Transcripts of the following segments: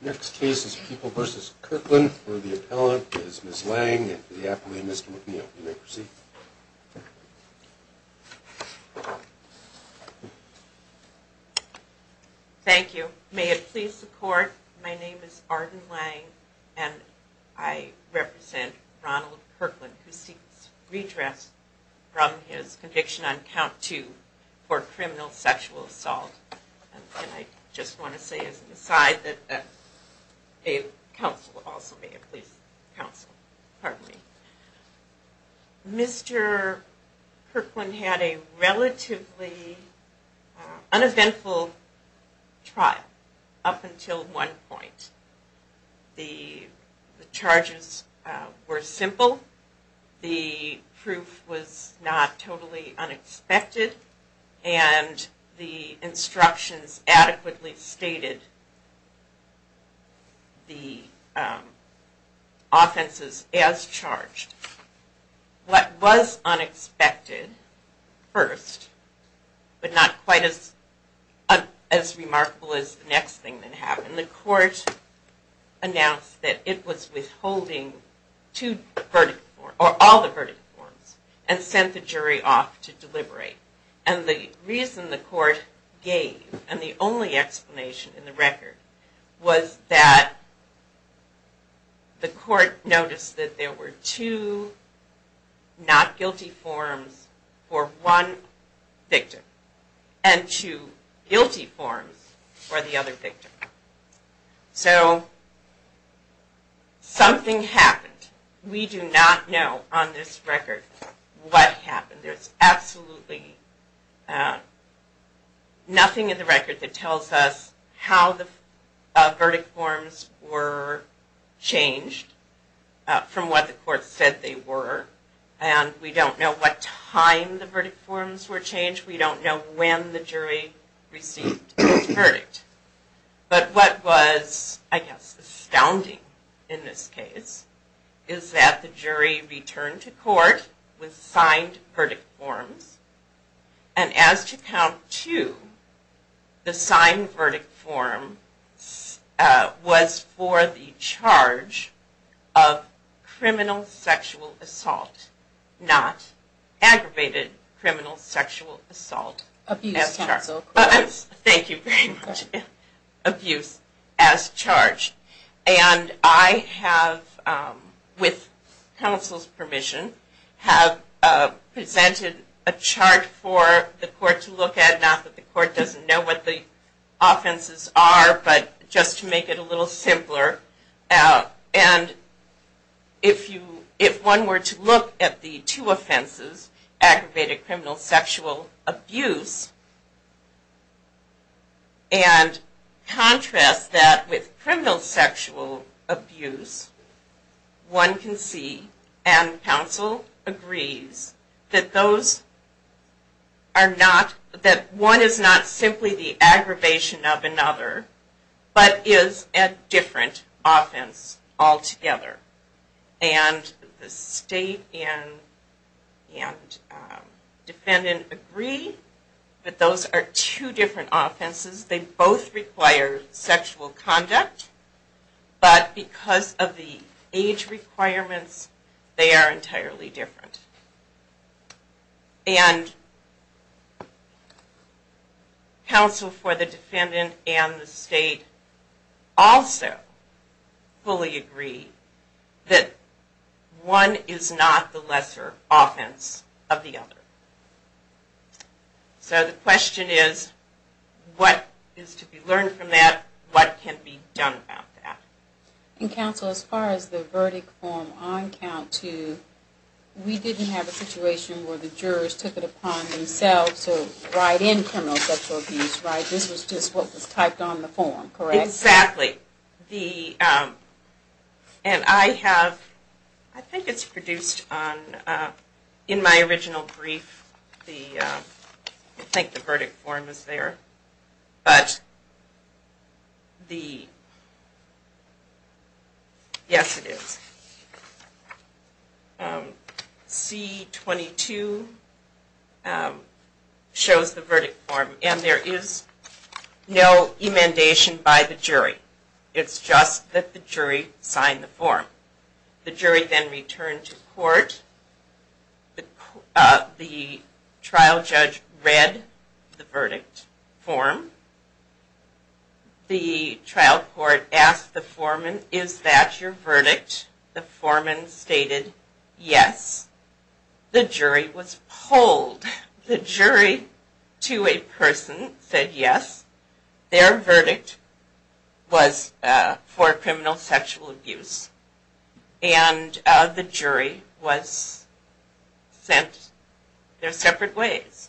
Next case is People v. Kirkland. For the appellant is Ms. Lange and for the appellant is Mr. Whitney. You may proceed. Thank you. May it please the court, my name is Arden Lange and I represent Ronald Kirkland who seeks redress from his conviction on count two for criminal sexual assault. And I just want to say as an aside that counsel also may it please counsel, pardon me. Mr. Kirkland had a relatively uneventful trial up until one point. The charges were simple, the proof was not totally unexpected, and the instructions adequately stated the offenses as charged. What was unexpected first, but not quite as remarkable as the next thing that happened, the court announced that it was withholding all the verdict forms and sent the jury off to deliberate. And the reason the court gave and the only explanation in the record was that the court noticed that there were two not guilty forms for one victim and two guilty forms for the other victim. So something happened. We do not know on this record what happened. There is absolutely nothing in the record that tells us how the verdict forms were changed from what the court said they were. And we don't know what time the verdict forms were changed. We don't know when the jury received its verdict. But what was I guess astounding in this case is that the jury returned to court with signed verdict forms. And as to count two, the signed verdict form was for the charge of criminal sexual assault, not aggravated criminal sexual assault. Thank you very much. Abuse as charged. And I have, with counsel's permission, have presented a chart for the court to look at. Not that the court doesn't know what the offenses are, but just to make it a little simpler. And if one were to look at the two offenses, aggravated criminal sexual abuse, and contrast that with criminal sexual abuse, one can see, and counsel agrees, that those are not, that one is not simply the aggravation of another, but is a different offense altogether. And the state and defendant agree that those are two different offenses. They both require sexual conduct, but because of the age requirements, they are entirely different. And counsel for the defendant and the state also fully agree that one is not the lesser offense of the other. So the question is, what is to be learned from that? What can be done about that? And counsel, as far as the verdict form on count two, we didn't have a situation where the jurors took it upon themselves to write in criminal sexual abuse, right? This was just what was typed on the form, correct? Yes, exactly. And I have, I think it's produced on, in my original brief, I think the verdict form is there, but the, yes it is. C-22 shows the verdict form, and there is no emendation by the jury. It's just that the jury signed the form. The jury then returned to court, the trial judge read the verdict form, the trial court asked the foreman, is that your verdict? The foreman stated yes. The jury was pulled. The jury to a person said yes, their verdict was for criminal sexual abuse. And the jury was sent their separate ways.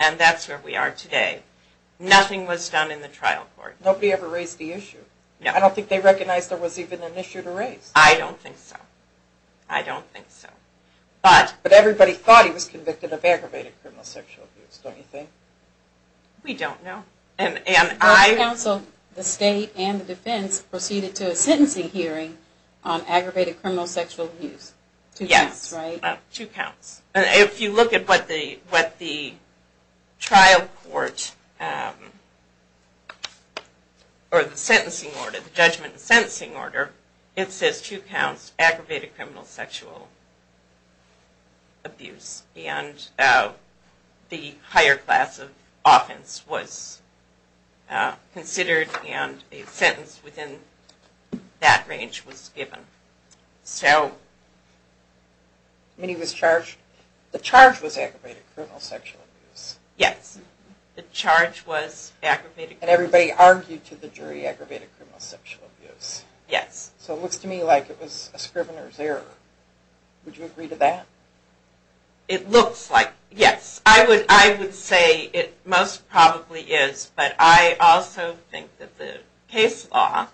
And that's where we are today. Nothing was done in the trial court. Nobody ever raised the issue. I don't think they recognized there was even an issue to raise. I don't think so. I don't think so. But everybody thought he was convicted of aggravated criminal sexual abuse, don't you think? We don't know. The state and the defense proceeded to a sentencing hearing on aggravated criminal sexual abuse. Two counts, right? Yes. The charge was aggravated criminal sexual abuse. And everybody argued to the jury aggravated criminal sexual abuse. Yes. So it looks to me like it was a scrivener's error. Would you agree to that? It looks like, yes. I would say it most probably is. But I also think that the case law,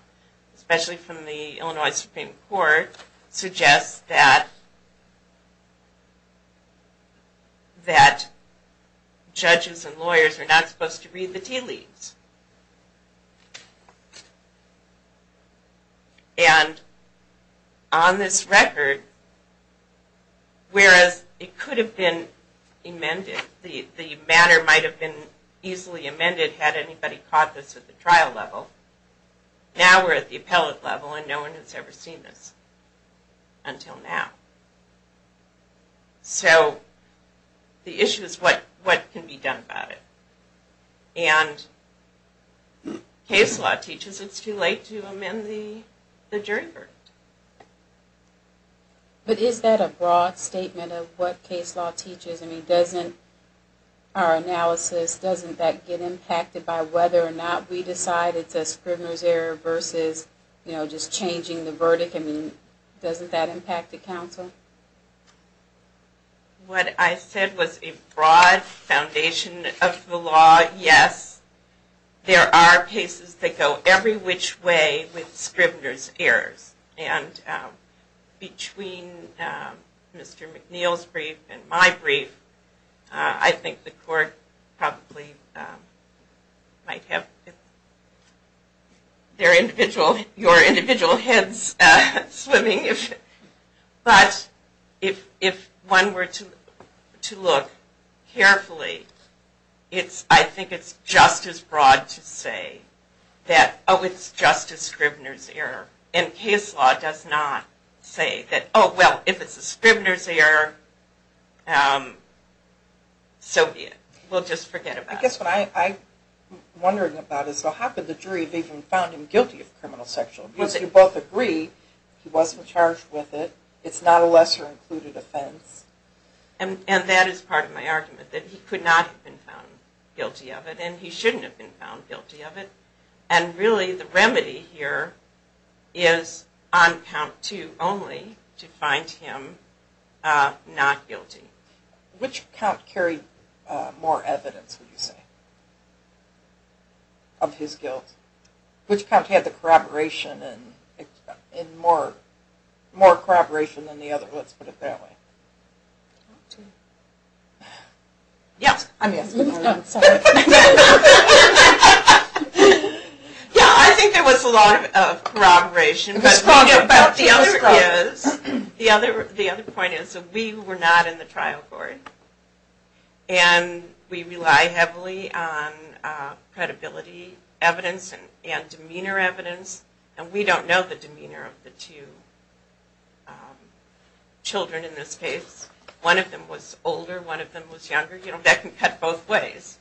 especially from the Illinois Supreme Court, suggests that judges and lawyers are not supposed to read the tea leaves. And on this record, whereas it could have been amended, the matter might have been easily amended had anybody caught this at the trial level, now we're at the appellate level and no one has ever seen this until now. So the issue is what can be done about it. And case law teaches it's too late to amend the jury verdict. But is that a broad statement of what case law teaches? I mean, doesn't our analysis, doesn't that get impacted by whether or not we decide it's a scrivener's error versus, you know, just changing the verdict? I mean, doesn't that impact the counsel? What I said was a broad foundation of the law. Yes, there are cases that go every which way with scrivener's errors. And between Mr. McNeil's brief and my brief, I think the court probably might have their individual, your individual heads swimming. But if one were to look carefully, I think it's just as broad to say that, oh, it's just a scrivener's error. And case law does not say that, oh, well, if it's a scrivener's error, so be it. We'll just forget about it. I guess what I'm wondering about is how could the jury have even found him guilty of criminal sexual abuse? You both agree he wasn't charged with it. It's not a lesser included offense. And that is part of my argument, that he could not have been found guilty of it, and he shouldn't have been found guilty of it. And really the remedy here is on count two only to find him not guilty. Which count carried more evidence, would you say, of his guilt? Which count had the corroboration and more corroboration than the other? Let's put it that way. I think there was a lot of corroboration, but the other point is that we were not in the trial court, and we rely heavily on credibility evidence and demeanor evidence. And we don't know the demeanor of the two children in this case. One of them was older, one of them was younger. That can cut both ways.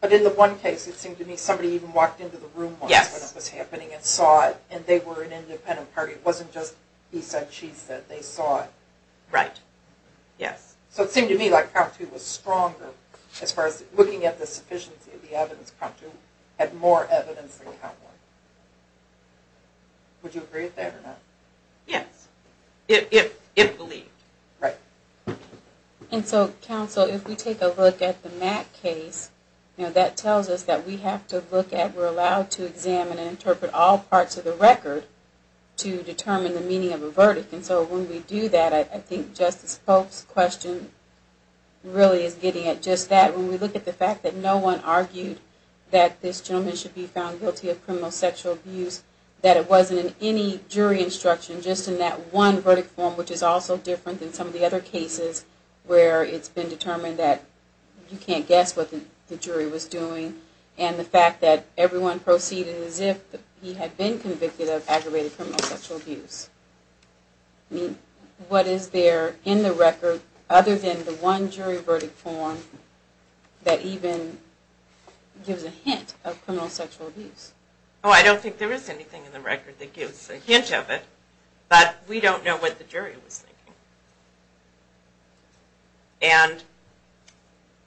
But in the one case it seemed to me somebody even walked into the room once when it was happening and saw it, and they were an independent party. It wasn't just he said, she said. They saw it. Right. Yes. So it seemed to me like count two was stronger as far as looking at the sufficiency of the evidence. Count two had more evidence than count one. Would you agree with that or not? Yes. If believed. Right. And so, counsel, if we take a look at the Mack case, that tells us that we have to look at, we're allowed to examine and interpret all parts of the record to determine the meaning of a verdict. And so when we do that, I think Justice Pope's question really is getting at just that. When we look at the fact that no one argued that this gentleman should be found guilty of criminal sexual abuse, that it wasn't in any jury instruction, just in that one verdict form, which is also different than some of the other cases where it's been determined that you can't guess what the jury was doing, and the fact that everyone proceeded as if he had been convicted of aggravated criminal sexual abuse. I mean, what is there in the record other than the one jury verdict form that even gives a hint of criminal sexual abuse? Oh, I don't think there is anything in the record that gives a hint of it, but we don't know what the jury was thinking. And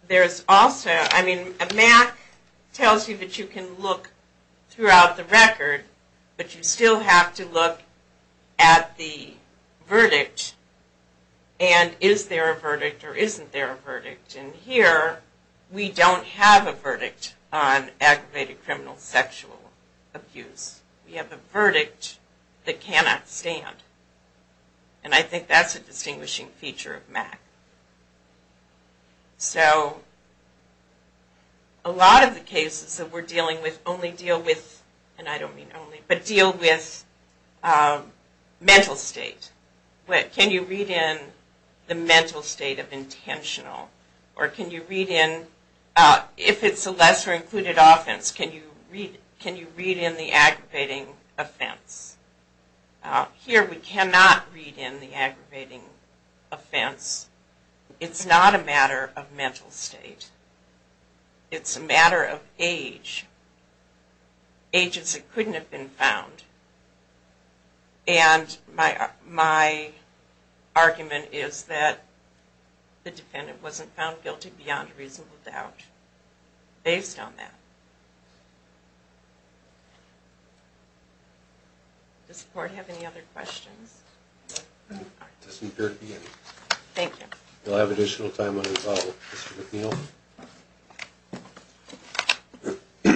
there's also, I mean, Mack tells you that you can look throughout the record, but you still have to look at the verdict, and is there a verdict or isn't there a verdict. And here, we don't have a verdict on aggravated criminal sexual abuse. We have a verdict that cannot stand. And I think that's a distinguishing feature of Mack. So, a lot of the cases that we're dealing with only deal with, and I don't mean only, but deal with mental state. Can you read in the mental state of intentional, or can you read in, if it's a lesser included offense, can you read in the aggravating offense? Here, we cannot read in the aggravating offense. It's not a matter of mental state. It's a matter of age. Ages it couldn't have been found. And my argument is that the defendant wasn't found guilty beyond reasonable doubt, based on that. Does the court have any other questions? It doesn't appear to be any. Thank you. We'll have additional time unresolved. Mr. McNeil? Do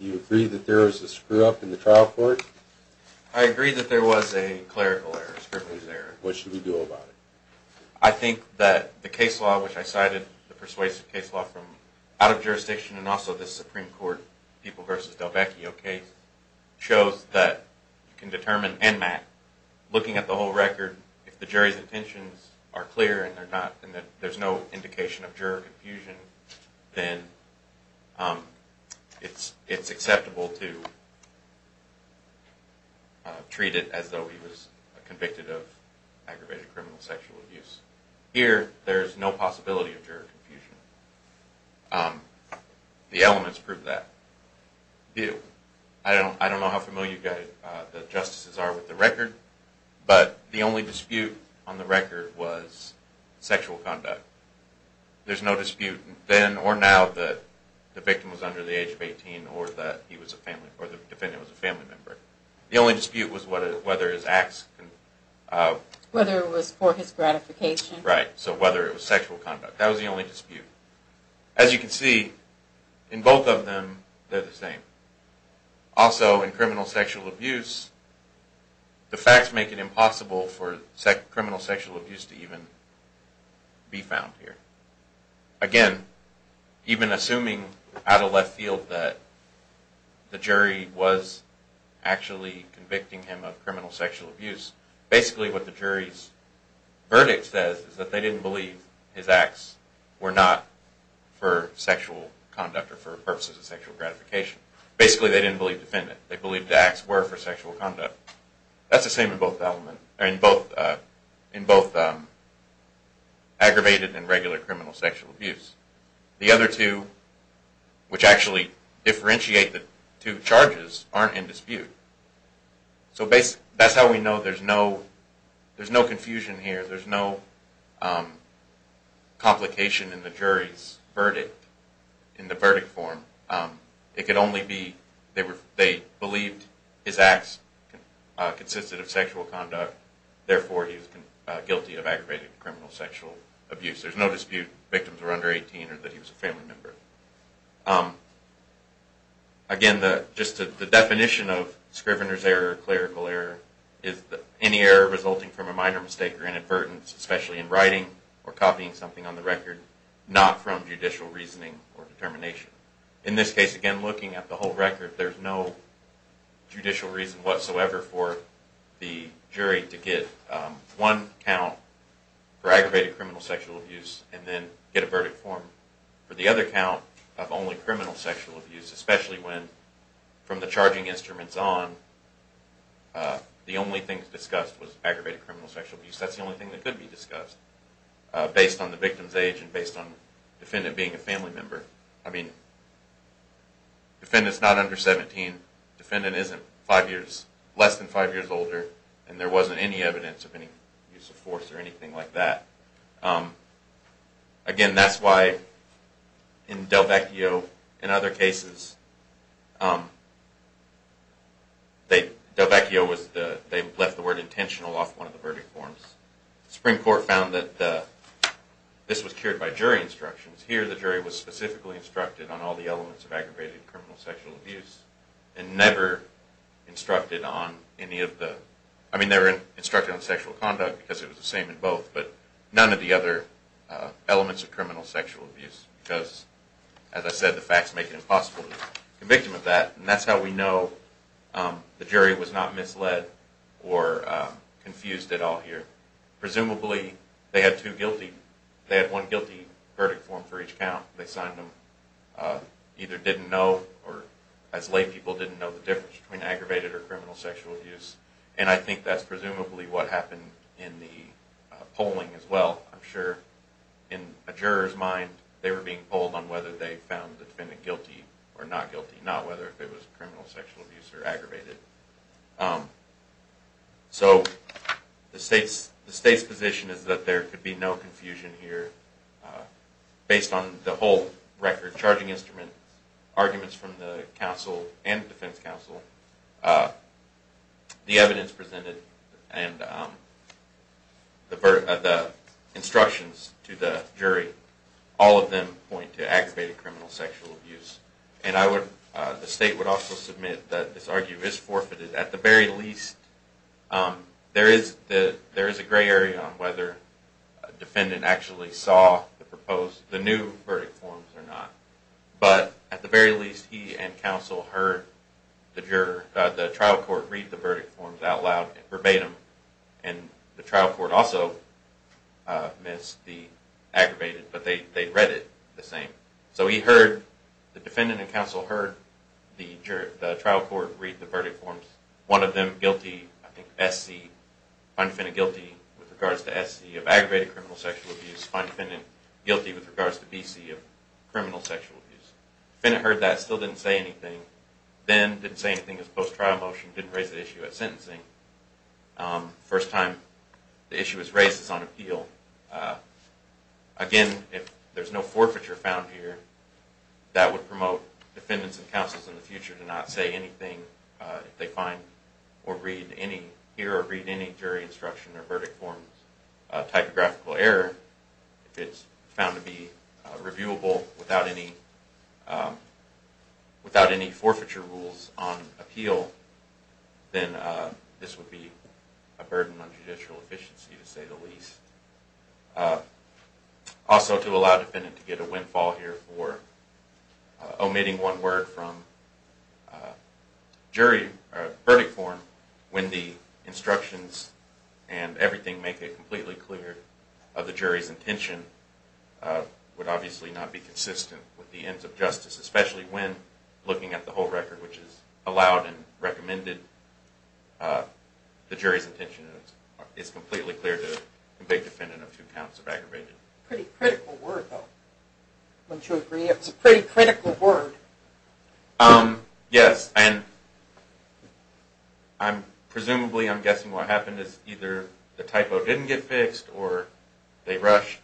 you agree that there is a screw-up in the trial court? I agree that there was a clerical error. What should we do about it? I think that the case law, which I cited, the persuasive case law from out of jurisdiction, and also the Supreme Court People v. Delbecchio case, shows that you can determine, and Mack, looking at the whole record, if the jury's intentions are clear and there's no indication of juror confusion, then it's acceptable to treat it as though he was convicted of aggravated criminal sexual abuse. Here, there's no possibility of juror confusion. The elements prove that. I don't know how familiar the justices are with the record, but the only dispute on the record was sexual conduct. There's no dispute then or now that the victim was under the age of 18 or that the defendant was a family member. The only dispute was whether his acts... Whether it was for his gratification. Right, so whether it was sexual conduct. That was the only dispute. As you can see, in both of them, they're the same. Also, in criminal sexual abuse, the facts make it impossible for criminal sexual abuse to even be found here. Again, even assuming out of left field that the jury was actually convicting him of criminal sexual abuse, basically what the jury's verdict says is that they didn't believe his acts were not for sexual conduct or for purposes of sexual gratification. Basically, they didn't believe the defendant. They believed the acts were for sexual conduct. That's the same in both aggravated and regular criminal sexual abuse. The other two, which actually differentiate the two charges, aren't in dispute. So that's how we know there's no confusion here. There's no complication in the jury's verdict. In the verdict form, it could only be they believed his acts consisted of sexual conduct. Therefore, he was guilty of aggravated criminal sexual abuse. There's no dispute victims were under 18 or that he was a family member. Again, just the definition of Scrivener's error, clerical error, is any error resulting from a minor mistake or inadvertence, especially in writing or copying something on the record, not from judicial reasoning or determination. In this case, again, looking at the whole record, there's no judicial reason whatsoever for the jury to get one count for aggravated criminal sexual abuse and then get a verdict form for the other count of only criminal sexual abuse, especially when, from the charging instruments on, the only thing discussed was aggravated criminal sexual abuse. That's the only thing that could be discussed based on the victim's age and based on the defendant being a family member. I mean, defendant's not under 17, defendant isn't less than five years older, and there wasn't any evidence of any use of force or anything like that. Again, that's why in Delvecchio and other cases, Delvecchio left the word intentional off one of the verdict forms. The Supreme Court found that this was cured by jury instructions. Here, the jury was specifically instructed on all the elements of aggravated criminal sexual abuse and never instructed on any of the, I mean, they were instructed on sexual conduct because it was the same in both, but none of the other elements of criminal sexual abuse because, as I said, the facts make it impossible to convict them of that. And that's how we know the jury was not misled or confused at all here. Presumably, they had two guilty, they had one guilty verdict form for each count. They signed them, either didn't know or, as lay people, didn't know the difference between aggravated or criminal sexual abuse. And I think that's presumably what happened in the polling as well. I'm sure in a juror's mind, they were being polled on whether they found the defendant guilty or not guilty, not whether it was criminal sexual abuse or aggravated. So the state's position is that there could be no confusion here based on the whole record charging instrument, arguments from the counsel and the defense counsel. The evidence presented and the instructions to the jury, all of them point to aggravated criminal sexual abuse. And I would, the state would also submit that this argument is forfeited. At the very least, there is a gray area on whether a defendant actually saw the proposed, the new verdict forms or not. But at the very least, he and counsel heard the trial court read the verdict forms out loud verbatim. And the trial court also missed the aggravated, but they read it the same. So he heard, the defendant and counsel heard the trial court read the verdict forms. One of them guilty, I think SC, find defendant guilty with regards to SC of aggravated criminal sexual abuse. Find defendant guilty with regards to BC of criminal sexual abuse. Defendant heard that, still didn't say anything. Then didn't say anything in his post-trial motion, didn't raise the issue at sentencing. First time the issue was raised, it's on appeal. Again, if there's no forfeiture found here, that would promote defendants and counsels in the future to not say anything if they find or read any, hear or read any jury instruction or verdict forms typographical error. If it's found to be reviewable without any forfeiture rules on appeal, then this would be a burden on judicial efficiency to say the least. Also to allow defendant to get a windfall here for omitting one word from jury verdict form when the instructions and everything make it completely clear of the jury's intention would obviously not be consistent with the ends of justice, especially when looking at the whole record, which is allowed and recommended. The jury's intention is completely clear to convict defendant of two counts of aggravated. Pretty critical word though, wouldn't you agree? It's a pretty critical word. Yes, and presumably I'm guessing what happened is either the typo didn't get fixed, or they rushed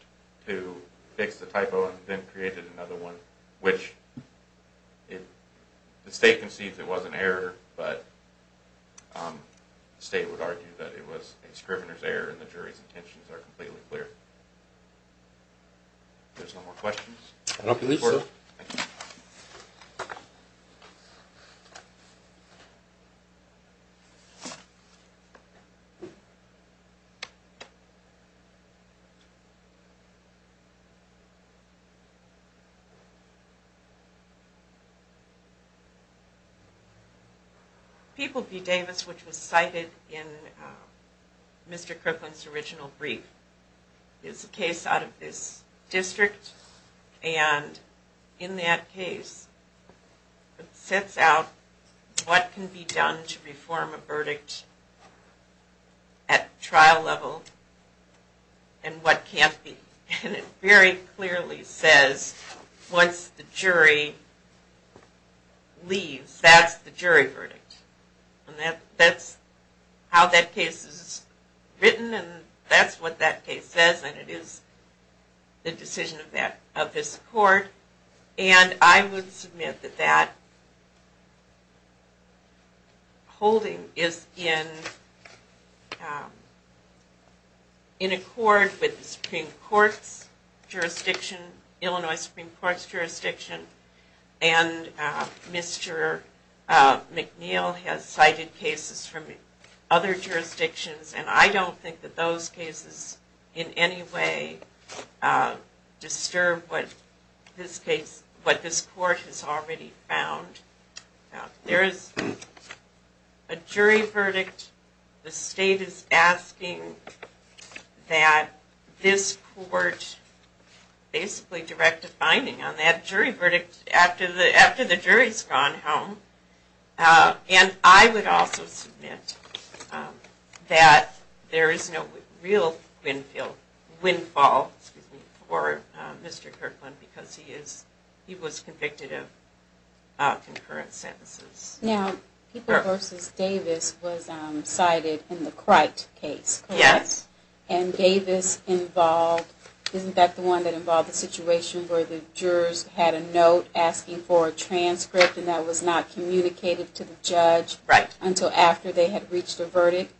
to fix the typo and then created another one, which if the state concedes it was an error, but the state would argue that it was a scrivener's error and the jury's intentions are completely clear. There's no more questions? I don't believe so. People v. Davis, which was cited in Mr. Kriplin's original brief, is a case out of this district, and in that case it sets out what can be done to reform a verdict at trial level and what can't be. And it very clearly says once the jury leaves, that's the jury verdict. And that's how that case is written, and that's what that case says, and it is the decision of this court. And I would submit that that holding is in accord with the Supreme Court's jurisdiction, Illinois Supreme Court's jurisdiction, and Mr. McNeil has cited cases from other jurisdictions, and I don't think that those cases in any way disturb what this court has already found. There is a jury verdict. The state is asking that this court basically direct a finding on that jury verdict after the jury's gone home. And I would also submit that there is no real windfall for Mr. Kriplin because he was convicted of concurrent sentences. Now, People v. Davis was cited in the Crite case, correct? Yes. And Davis involved, isn't that the one that involved the situation where the jurors had a note asking for a transcript and that was not communicated to the judge until after they had reached a verdict,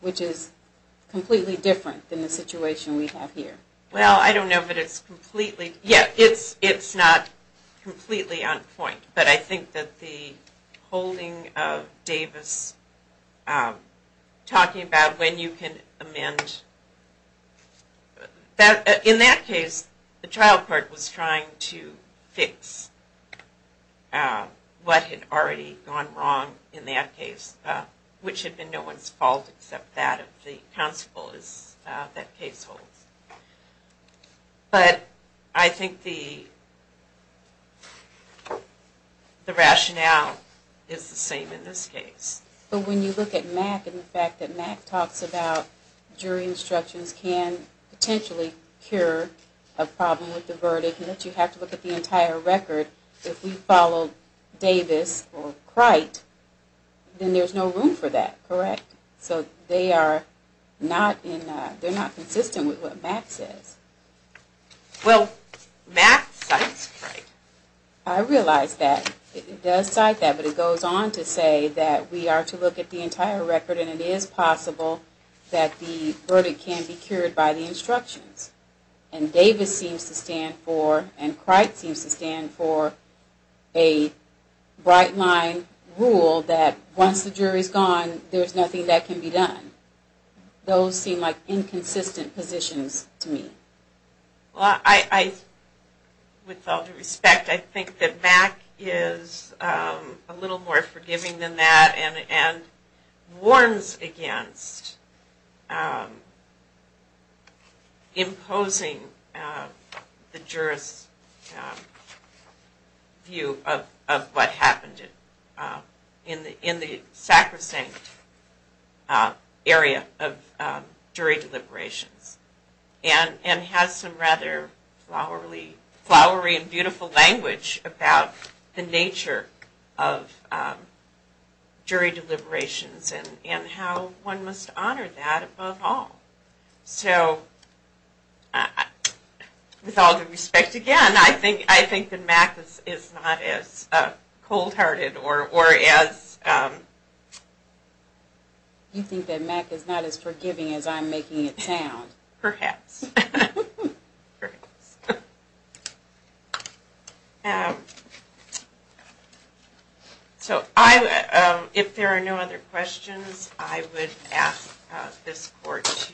which is completely different than the situation we have here. Well, I don't know, but it's completely, yeah, it's not completely on point, but I think that the holding of Davis talking about when you can amend, and in that case the trial court was trying to fix what had already gone wrong in that case, which had been no one's fault except that of the counsel that case holds. But I think the rationale is the same in this case. But when you look at Mack and the fact that Mack talks about jury instructions can potentially cure a problem with the verdict and that you have to look at the entire record, if we follow Davis or Crite, then there's no room for that, correct? So they are not consistent with what Mack says. Well, Mack cites Crite. I realize that. It does cite that, but it goes on to say that we are to look at the entire record and it is possible that the verdict can be cured by the instructions. And Davis seems to stand for, and Crite seems to stand for, a bright line rule that once the jury's gone, there's nothing that can be done. Those seem like inconsistent positions to me. Well, with all due respect, I think that Mack is a little more forgiving than that and warns against imposing the jurist's view of what happened in the sacrosanct area of jury deliberations and has some rather flowery and beautiful language about the nature of jury deliberations and how one must honor that above all. So, with all due respect again, I think that Mack is not as cold-hearted or as... Perhaps. So, if there are no other questions, I would ask this court to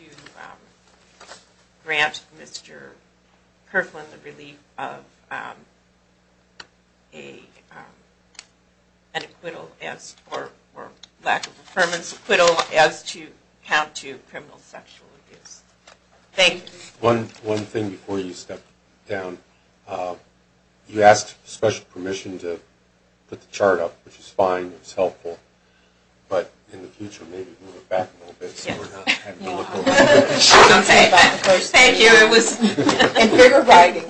grant Mr. Perflin the relief of an acquittal or lack of affirmance, acquittal, as to count to criminal sexual abuse. Thank you. One thing before you step down. You asked special permission to put the chart up, which is fine, it's helpful, but in the future, maybe move it back a little bit so we're not having to look over it. Thank you. And bigger writing.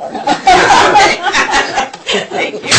Thank you.